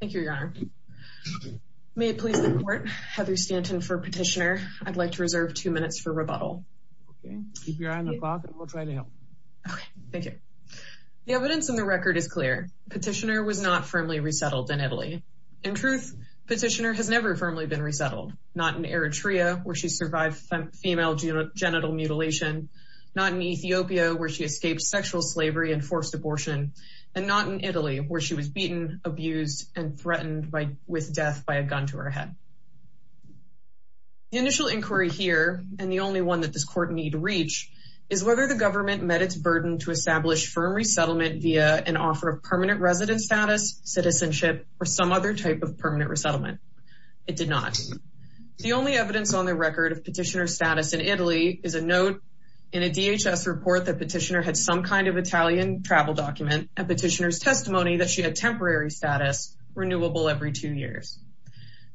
Thank you, Your Honor. May it please the Court, Heather Stanton for Petitioner. I'd like to reserve two minutes for rebuttal. Okay, keep your eye on the clock and we'll try to help. Okay, thank you. The evidence in the record is clear. Petitioner was not firmly resettled in Italy. In truth, Petitioner has never firmly been resettled. Not in Eritrea, where she survived female genital mutilation. Not in Ethiopia, where she escaped sexual slavery and forced abortion. And not in Italy, where she was beaten, abused, and threatened with death by a gun to her head. The initial inquiry here, and the only one that this Court need reach, is whether the government met its burden to establish firm resettlement via an offer of permanent resident status, citizenship, or some other type of permanent resettlement. It did not. The only evidence on the record of Petitioner's status in Italy is a note in a DHS report that Petitioner had some kind of Italian travel document, and Petitioner's testimony that she had temporary status, renewable every two years.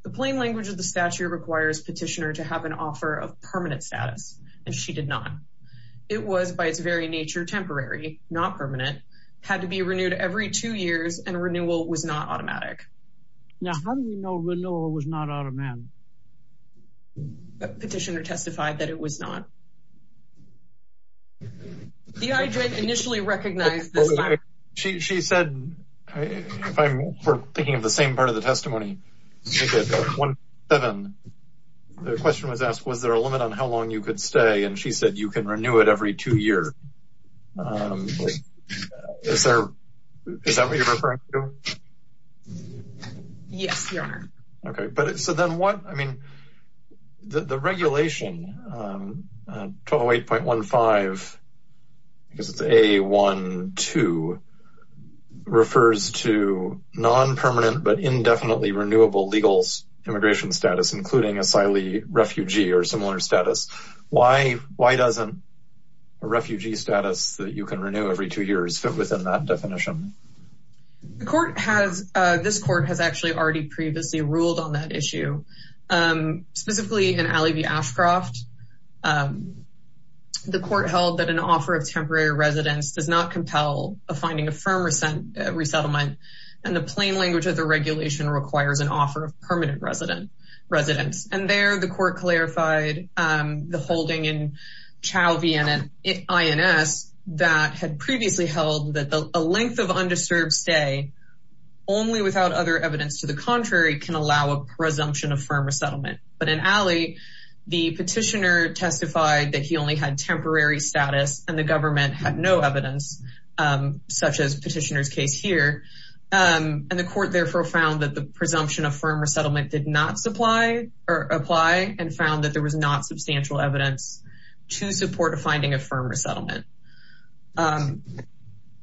The plain language of the statute requires Petitioner to have an offer of permanent status, and she did not. It was, by its very nature, temporary, not permanent, had to be renewed every two years, and renewal was not automatic. Now, how do we know renewal was not automatic? Petitioner testified that it was not. The IJ initially recognized this fact. She said, if I'm thinking of the same part of the testimony, the question was asked was there a limit on how long you could stay, and she said you can renew it every two years. Is that what you're referring to? Yes, Your Honor. Okay. So then what, I mean, the regulation, 208.15, because it's A-1-2, refers to non-permanent but indefinitely renewable legal immigration status, including asylee, refugee, or similar status. Why doesn't a refugee status that you can renew every two years fit within that definition? The court has, this court has actually already previously ruled on that issue. Specifically in Alley v. Ashcroft, the court held that an offer of temporary residence does not compel a finding of firm resettlement, and the plain language of the regulation requires an offer of permanent residence. And there the court clarified the holding in Chau v. INS that had previously held that a length of undisturbed stay only without other evidence to the contrary can allow a presumption of firm resettlement. But in Alley, the petitioner testified that he only had temporary status and the government had no evidence, such as petitioner's case here, and the court therefore found that the presumption of firm resettlement did not apply and found that there was not substantial evidence to support a finding of firm resettlement.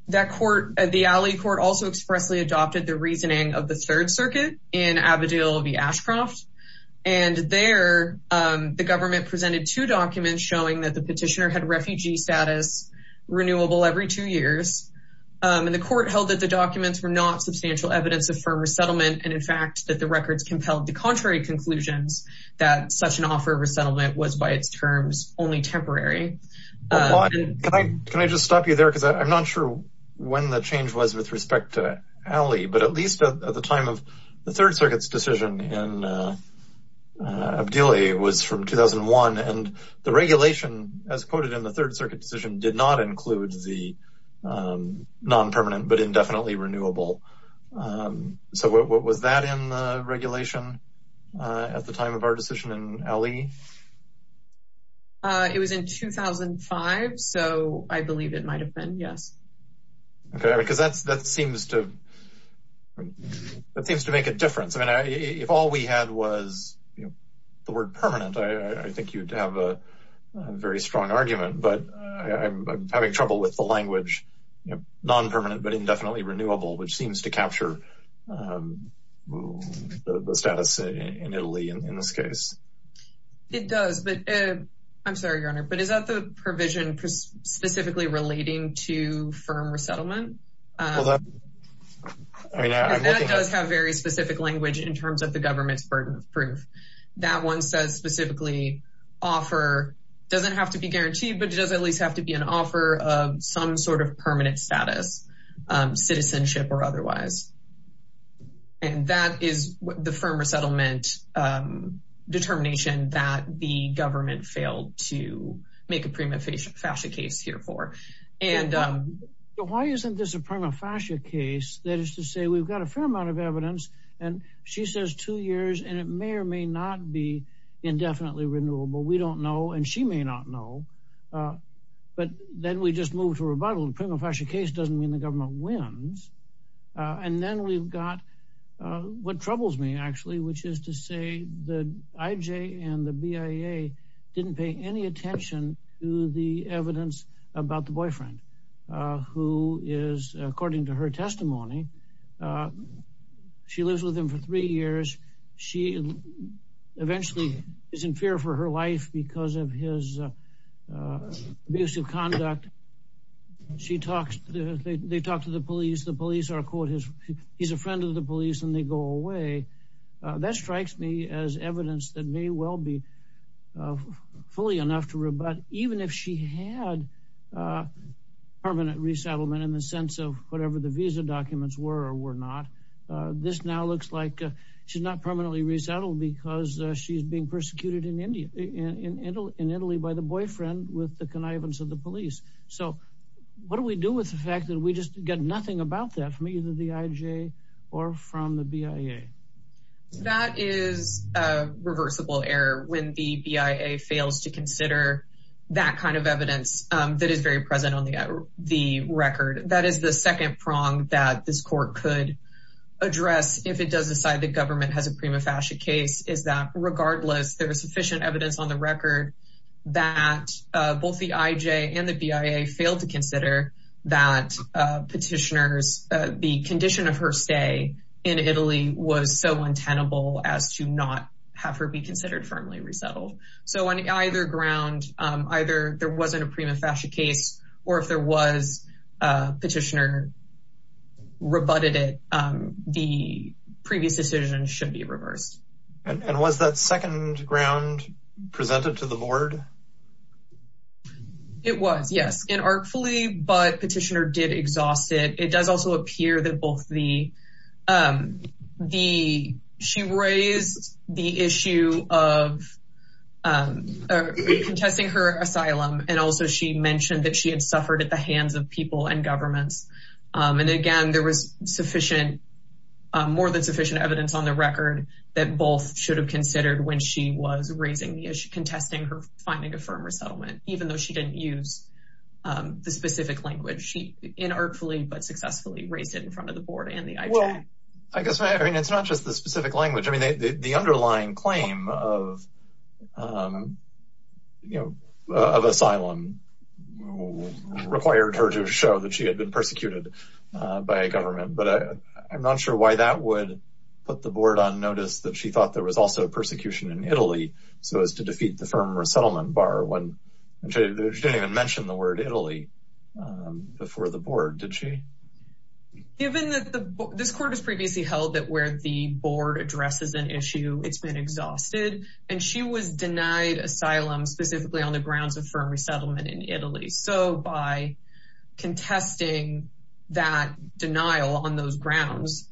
That court, the Alley court also expressly adopted the reasoning of the Third Circuit in Abedal v. Ashcroft, and there the government presented two documents showing that the petitioner had refugee status, renewable every two years, and the court held that the documents were not substantial evidence of firm resettlement, and in fact that the records compelled the contrary conclusions that such an offer of resettlement was by its terms only temporary. Can I just stop you there? Because I'm not sure when the change was with respect to Alley, but at least at the time of the Third Circuit's decision in Abdili was from 2001, and the regulation, as quoted in the Third Circuit decision, did not include the non-permanent but indefinitely renewable. So what was that in the regulation at the time of our decision in Alley? It was in 2005, so I believe it might have been, yes. Okay, because that seems to make a difference. If all we had was the word permanent, I think you'd have a very strong argument, but I'm having trouble with the language non-permanent but indefinitely renewable, which seems to capture the status in Italy in this case. It does, but I'm sorry, Your Honor, but is that the provision specifically relating to firm resettlement? That does have very specific language in terms of the government's burden of proof. That one says specifically offer doesn't have to be guaranteed, but it does at least have to be an offer of some sort of permanent status, citizenship or otherwise, and that is the firm resettlement determination that the government failed to make a prima facie case here for. Why isn't this a prima facie case? That is to say we've got a fair amount of evidence, and she says two years, and it may or may not be indefinitely renewable. We don't know, and she may not know, but then we just move to rebuttal. A prima facie case doesn't mean the government wins, and then we've got what troubles me actually, which is to say the IJ and the BIA didn't pay any attention to the evidence about the boyfriend who is, according to her testimony, she lives with him for three years. She eventually is in fear for her life because of his abusive conduct. They talk to the police. The police are, quote, he's a friend of the police, and they go away. That strikes me as evidence that may well be fully enough to rebut. Even if she had permanent resettlement in the sense of whatever the visa documents were or were not, this now looks like she's not permanently resettled because she's being persecuted in Italy by the boyfriend with the connivance of the police. So what do we do with the fact that we just get nothing about that from either the IJ or from the BIA? That is a reversible error when the BIA fails to consider that kind of evidence that is very present on the record. That is the second prong that this court could address if it does decide the government has a prima facie case, is that regardless there is sufficient evidence on the record that both the IJ and the BIA failed to consider that petitioners, the condition of her stay in Italy was so untenable as to not have her be considered firmly resettled. So on either ground, either there wasn't a prima facie case or if there was a petitioner rebutted it, the previous decision should be reversed. And was that second ground presented to the board? It was, yes. In artfully, but petitioner did exhaust it. It does also appear that both the, she raised the issue of contesting her asylum and also she mentioned that she had suffered at the hands of people and governments. And again, there was more than sufficient evidence on the record that both should have considered when she was raising the issue, contesting her finding a firm resettlement, even though she didn't use the specific language. In artfully, but successfully raised it in front of the board and the IJ. Well, I guess, I mean, it's not just the specific language. I mean, the underlying claim of, you know, of asylum required her to show that she had been persecuted by a government. But I'm not sure why that would put the board on notice that she thought there was also a persecution in Italy. So as to defeat the firm resettlement bar, when she didn't even mention the word Italy before the board, did she? Given that this court has previously held that where the board addresses an issue it's been exhausted and she was denied asylum specifically on the grounds of firm resettlement in Italy. So by contesting that denial on those grounds,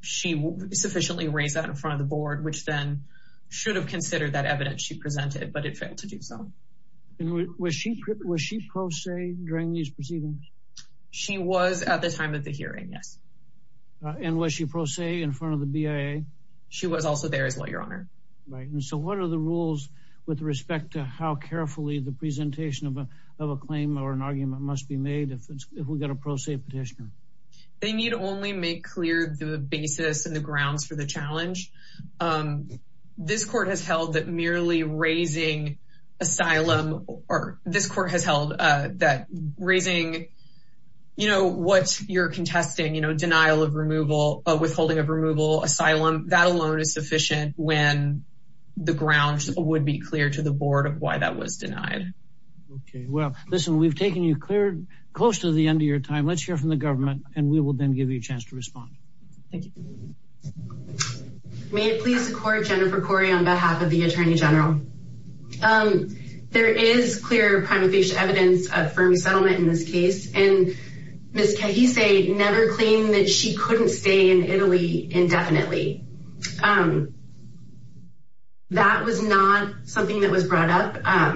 she sufficiently raised that in front of the board, which then should have considered that evidence she presented, but it failed to do so. Was she pro se during these proceedings? She was at the time of the hearing, yes. And was she pro se in front of the BIA? She was also there as well, Your Honor. Right, and so what are the rules with respect to how carefully the presentation of a claim or an argument must be made if we've got a pro se petition? They need only make clear the basis and the grounds for the challenge. This court has held that merely raising asylum, or this court has held that raising, you know, what you're contesting, you know, denial of removal, withholding of removal, asylum, that alone is sufficient when the grounds would be clear to the board of why that was denied. Okay, well, listen, we've taken you close to the end of your time. Let's hear from the government, and we will then give you a chance to respond. Thank you. May it please the court, Jennifer Corey, on behalf of the Attorney General. There is clear prima facie evidence of firm resettlement in this case, and Ms. Kahese never claimed that she couldn't stay in Italy indefinitely. That was not something that was brought up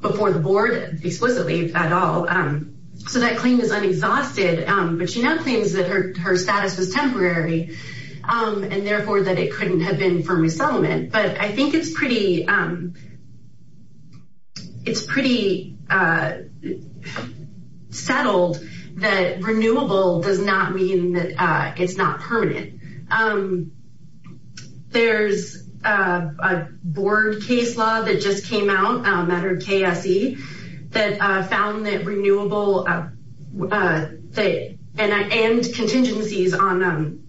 before the board explicitly at all. So that claim is unexhausted, but she now claims that her status was temporary, and therefore that it couldn't have been firm resettlement. But I think it's pretty settled that renewable does not mean that it's not permanent. There's a board case law that just came out, Matter KSE, that found that renewable and contingencies on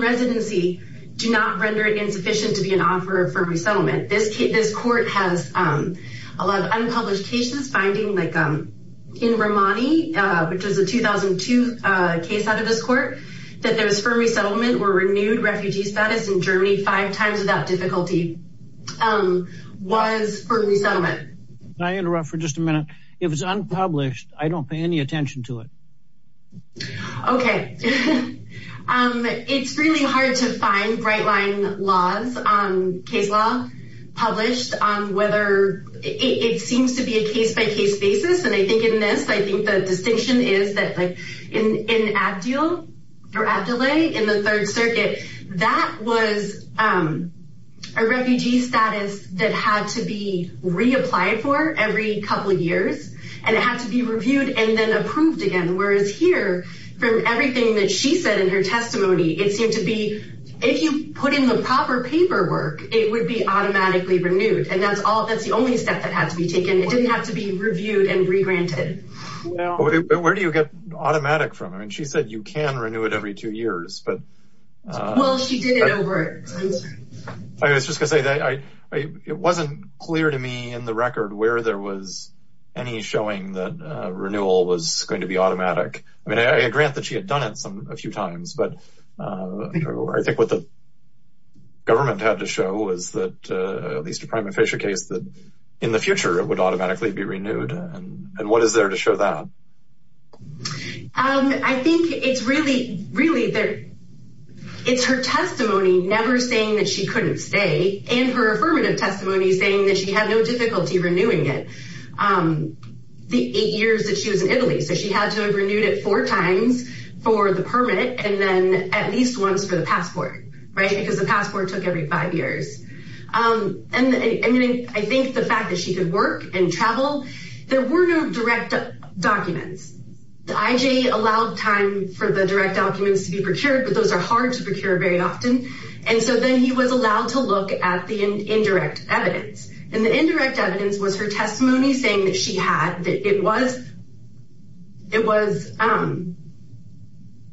residency do not render it insufficient to be an offer of firm resettlement. This court has a lot of unpublished cases, finding like in Romani, which was a 2002 case out of this court, that there was firm resettlement or renewed refugee status in Germany five times without difficulty was firm resettlement. Can I interrupt for just a minute? If it's unpublished, I don't pay any attention to it. Okay. It's really hard to find right-line laws on case law published on whether it seems to be a case-by-case basis. And I think in this, I think the distinction is that in Abdele, in the Third Circuit, that was a refugee status that had to be reapplied for every couple of years, and it had to be reviewed and then approved again. Whereas here, from everything that she said in her testimony, it seemed to be if you put in the proper paperwork, it would be automatically renewed. And that's the only step that had to be taken. It didn't have to be reviewed and regranted. Where do you get automatic from? I mean, she said you can renew it every two years. Well, she did it over time. I was just going to say, it wasn't clear to me in the record where there was any showing that renewal was going to be automatic. I mean, I grant that she had done it a few times, but I think what the government had to show was that at least a prima facie case, that in the future it would automatically be renewed. And what is there to show that? I think it's really her testimony never saying that she couldn't stay and her affirmative testimony saying that she had no difficulty renewing it the eight years that she was in Italy. So she had to have renewed it four times for the permit and then at least once for the passport, right, because the passport took every five years. And I think the fact that she could work and travel, there were no direct documents. The IJ allowed time for the direct documents to be procured, but those are hard to procure very often. And so then he was allowed to look at the indirect evidence. And the indirect evidence was her testimony saying that she had, that it was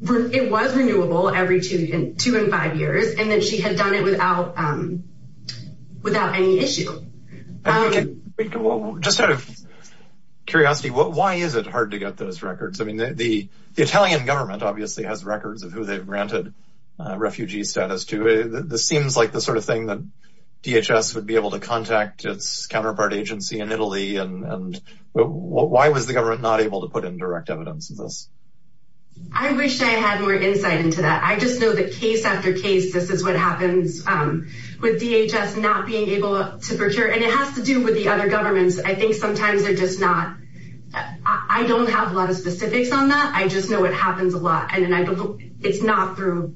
renewable every two and five years and that she had done it without any issue. Just out of curiosity, why is it hard to get those records? I mean, the Italian government obviously has records of who they've granted refugee status to. This seems like the sort of thing that DHS would be able to contact its counterpart agency in Italy. And why was the government not able to put in direct evidence of this? I wish I had more insight into that. I just know that case after case, this is what happens with DHS not being able to procure. And it has to do with the other governments. I think sometimes they're just not, I don't have a lot of specifics on that. I just know it happens a lot. And it's not through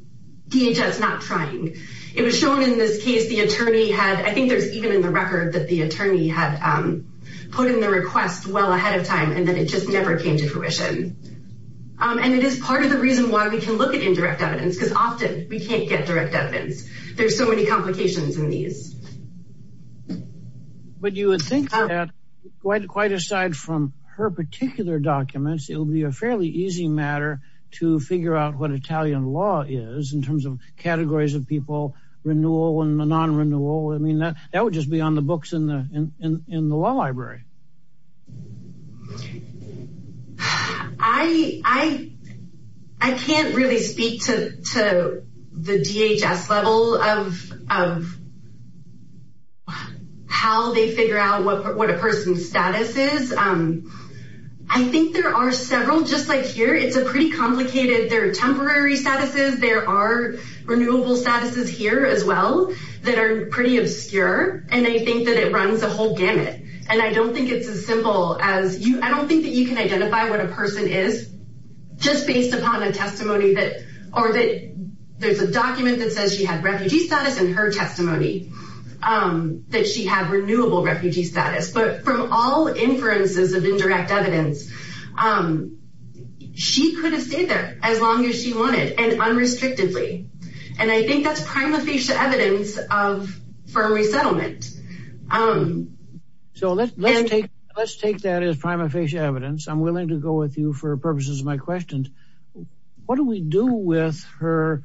DHS not trying. It was shown in this case, the attorney had, I think there's even in the record that the attorney had put in the request well ahead of time and that it just never came to fruition. And it is part of the reason why we can look at indirect evidence because often we can't get direct evidence. There's so many complications in these. But you would think that quite aside from her particular documents, it would be a fairly easy matter to figure out what Italian law is in terms of categories of people, renewal and non-renewal. I mean, that would just be on the books in the law library. I can't really speak to the DHS level of how they figure out what a person's status is. I think there are several just like here. It's a pretty complicated, there are temporary statuses. There are renewable statuses here as well that are pretty obscure. And I think that it runs a whole gamut. And I don't think it's as simple as, I don't think that you can identify what a person is just based upon a testimony or that there's a document that says she had refugee status in her testimony that she had renewable refugee status. But from all inferences of indirect evidence, she could have stayed there as long as she wanted and unrestrictedly. And I think that's prima facie evidence of firm resettlement. So let's take that as prima facie evidence. I'm willing to go with you for purposes of my questions. What do we do with her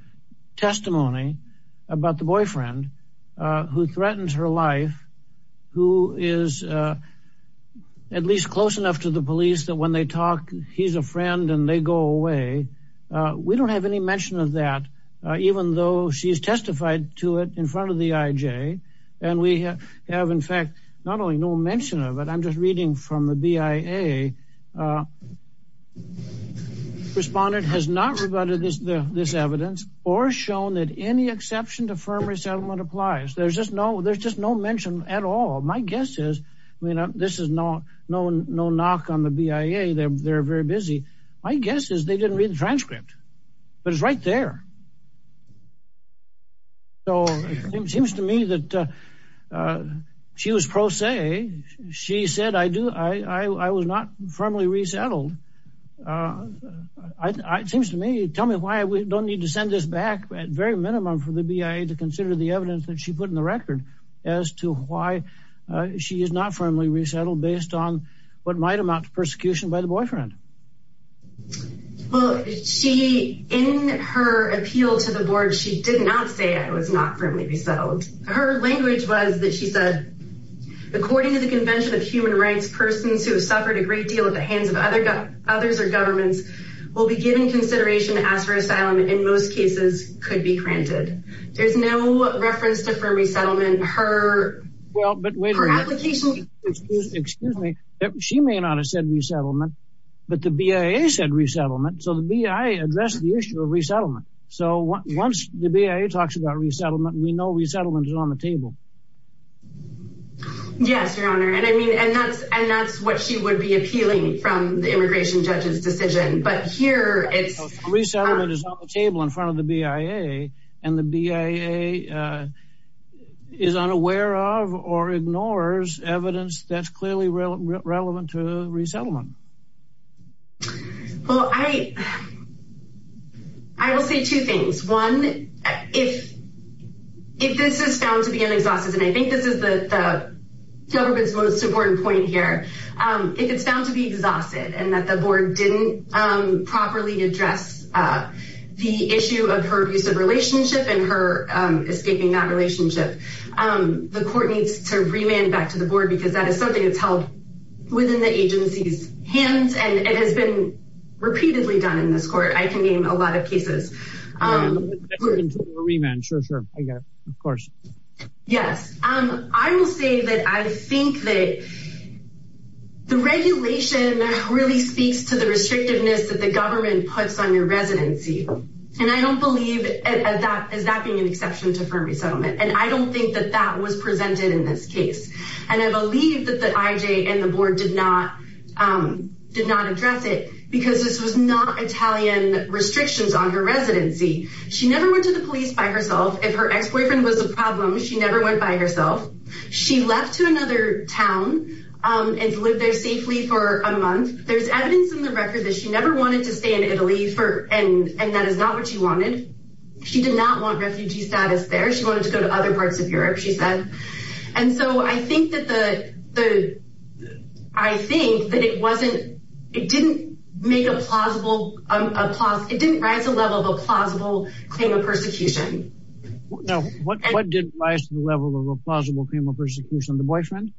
testimony about the boyfriend who threatens her life, who is at least close enough to the police that when they talk, he's a friend and they go away? We don't have any mention of that, even though she's testified to it in front of the IJ. And we have, in fact, not only no mention of it, I'm just reading from the BIA. Respondent has not rebutted this evidence or shown that any exception to firm resettlement applies. There's just no mention at all. My guess is, I mean, this is no knock on the BIA. They're very busy. My guess is they didn't read the transcript, but it's right there. So it seems to me that she was pro se. She said, I do. I was not firmly resettled. It seems to me, tell me why we don't need to send this back at very minimum for the BIA to consider the evidence that she put in the record as to why she is not firmly resettled based on what might amount to persecution by the boyfriend. Well, she, in her appeal to the board, she did not say I was not firmly resettled. Her language was that she said, according to the Convention of Human Rights, persons who have suffered a great deal at the hands of others or governments will be given consideration as for asylum, in most cases, could be granted. There's no reference to firm resettlement. Well, but wait a minute. Excuse me. She may not have said resettlement, but the BIA said resettlement. So the BIA addressed the issue of resettlement. So once the BIA talks about resettlement, we know resettlement is on the table. Yes, Your Honor. And I mean, and that's what she would be appealing from the immigration judge's decision. But here it's... Resettlement is on the table in front of the BIA, and the BIA is unaware of or ignores evidence that's clearly relevant to resettlement. Well, I will say two things. One, if this is found to be an exhaustive, and I think this is the government's most important point here, if it's found to be exhaustive and that the board didn't properly address the issue of her abusive relationship and her escaping that relationship, the court needs to remand back to the board because that is something that's held within the agency's hands, and it has been repeatedly done in this court, I can name a lot of cases. Remand. Sure, sure. I got it. Of course. Yes. I will say that I think that the regulation really speaks to the restrictiveness that the government puts on your residency. And I don't believe that that is being an exception to firm resettlement, and I don't think that that was presented in this case. And I believe that the IJ and the board did not address it because this was not Italian restrictions on her residency. She never went to the police by herself. If her ex-boyfriend was a problem, she never went by herself. She left to another town and lived there safely for a month. There's evidence in the record that she never wanted to stay in Italy, and that is not what she wanted. She did not want refugee status there. She wanted to go to other parts of Europe, she said. And so I think that the, I think that it wasn't, it didn't make a plausible, it didn't rise to the level of a plausible claim of persecution. Now, what did rise to the level of a plausible claim of persecution? The boyfriend?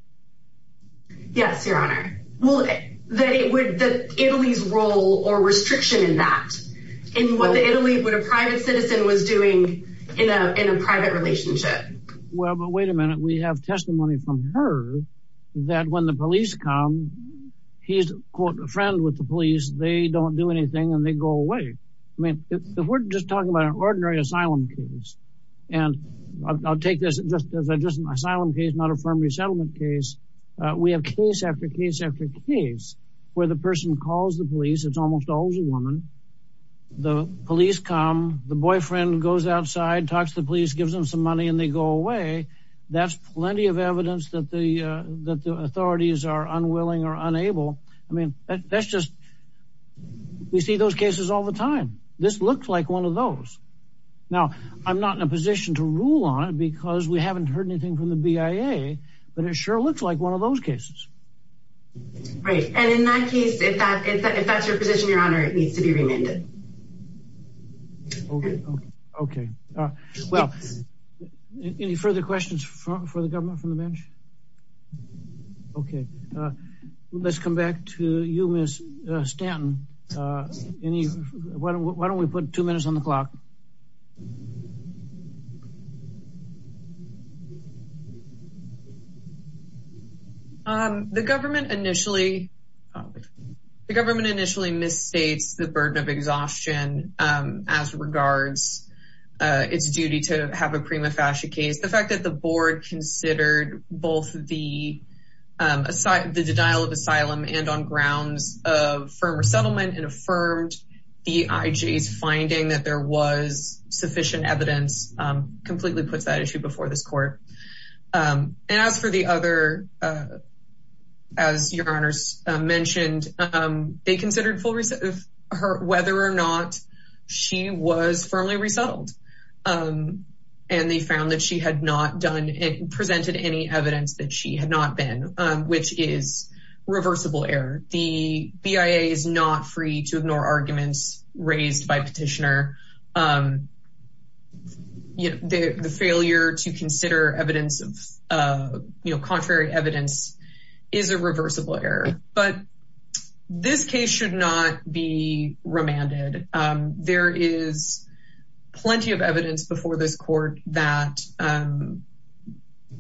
Yes, Your Honor. Well, that it would, Italy's role or restriction in that. In what the Italy, what a private citizen was doing in a private relationship. Well, but wait a minute. We have testimony from her that when the police come, he's a friend with the police. They don't do anything and they go away. I mean, if we're just talking about an ordinary asylum case, and I'll take this just as just an asylum case, not a firm resettlement case. We have case after case after case where the person calls the police. It's almost always a woman. The police come. The boyfriend goes outside, talks to the police, gives them some money and they go away. That's plenty of evidence that the authorities are unwilling or unable. I mean, that's just we see those cases all the time. This looks like one of those. Now, I'm not in a position to rule on it because we haven't heard anything from the BIA, but it sure looks like one of those cases. Right. And in that case, if that's your position, Your Honor, it needs to be remanded. OK, OK. Well, any further questions for the government from the bench? OK, let's come back to you, Ms. Stanton. Why don't we put two minutes on the clock? The government initially the government initially misstates the burden of exhaustion as regards its duty to have a prima facie case. The fact that the board considered both the the denial of asylum and on grounds of firm resettlement and affirmed the IJ's finding that there was sufficient evidence completely puts that issue before this court. And as for the other, as Your Honor mentioned, they considered for her whether or not she was firmly resettled and they found that she had not done it, presented any evidence that she had not been, which is reversible error. The BIA is not free to ignore arguments raised by petitioner. The failure to consider evidence of contrary evidence is a reversible error, but this case should not be remanded. There is plenty of evidence before this court that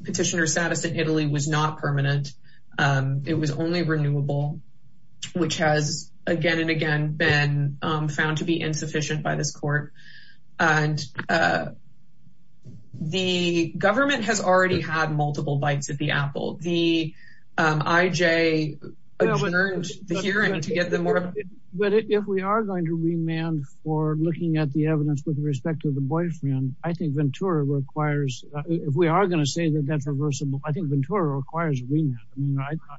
petitioner status in Italy was not permanent. It was only renewable, which has again and again been found to be insufficient by this court. And the government has already had multiple bites at the apple. The IJ adjourned the hearing to get them more. But if we are going to remand for looking at the evidence with respect to the boyfriend, I think Ventura requires if we are going to say that that's reversible, I think Ventura requires remand.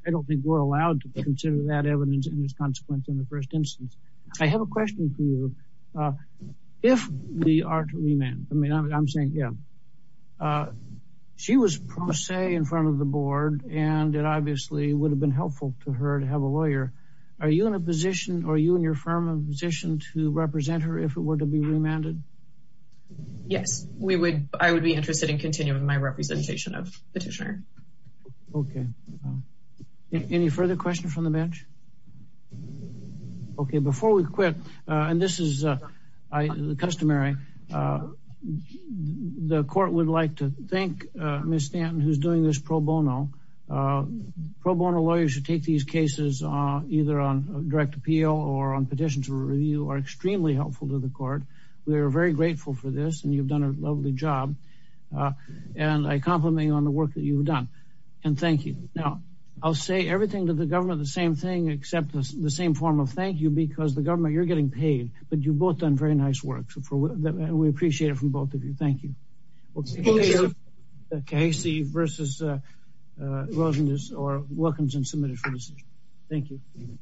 I don't think we're allowed to consider that evidence in this consequence in the first instance. I have a question for you. If we are to remand, I mean, I'm saying, yeah, she was pro se in front of the board, and it obviously would have been helpful to her to have a lawyer. Are you in a position or you and your firm position to represent her if it were to be remanded? Yes, we would. I would be interested in continuing my representation of petitioner. OK. Any further questions from the bench? OK, before we quit, and this is customary, the court would like to thank Miss Stanton, who's doing this pro bono. Pro bono lawyers should take these cases either on direct appeal or on petition to review are extremely helpful to the court. We are very grateful for this. And you've done a lovely job. And I compliment you on the work that you've done. And thank you. Now, I'll say everything to the government, the same thing, except the same form of thank you, because the government you're getting paid. But you've both done very nice work. And we appreciate it from both of you. Thank you. Casey versus Rosen is or welcomes and submitted for decision. Thank you.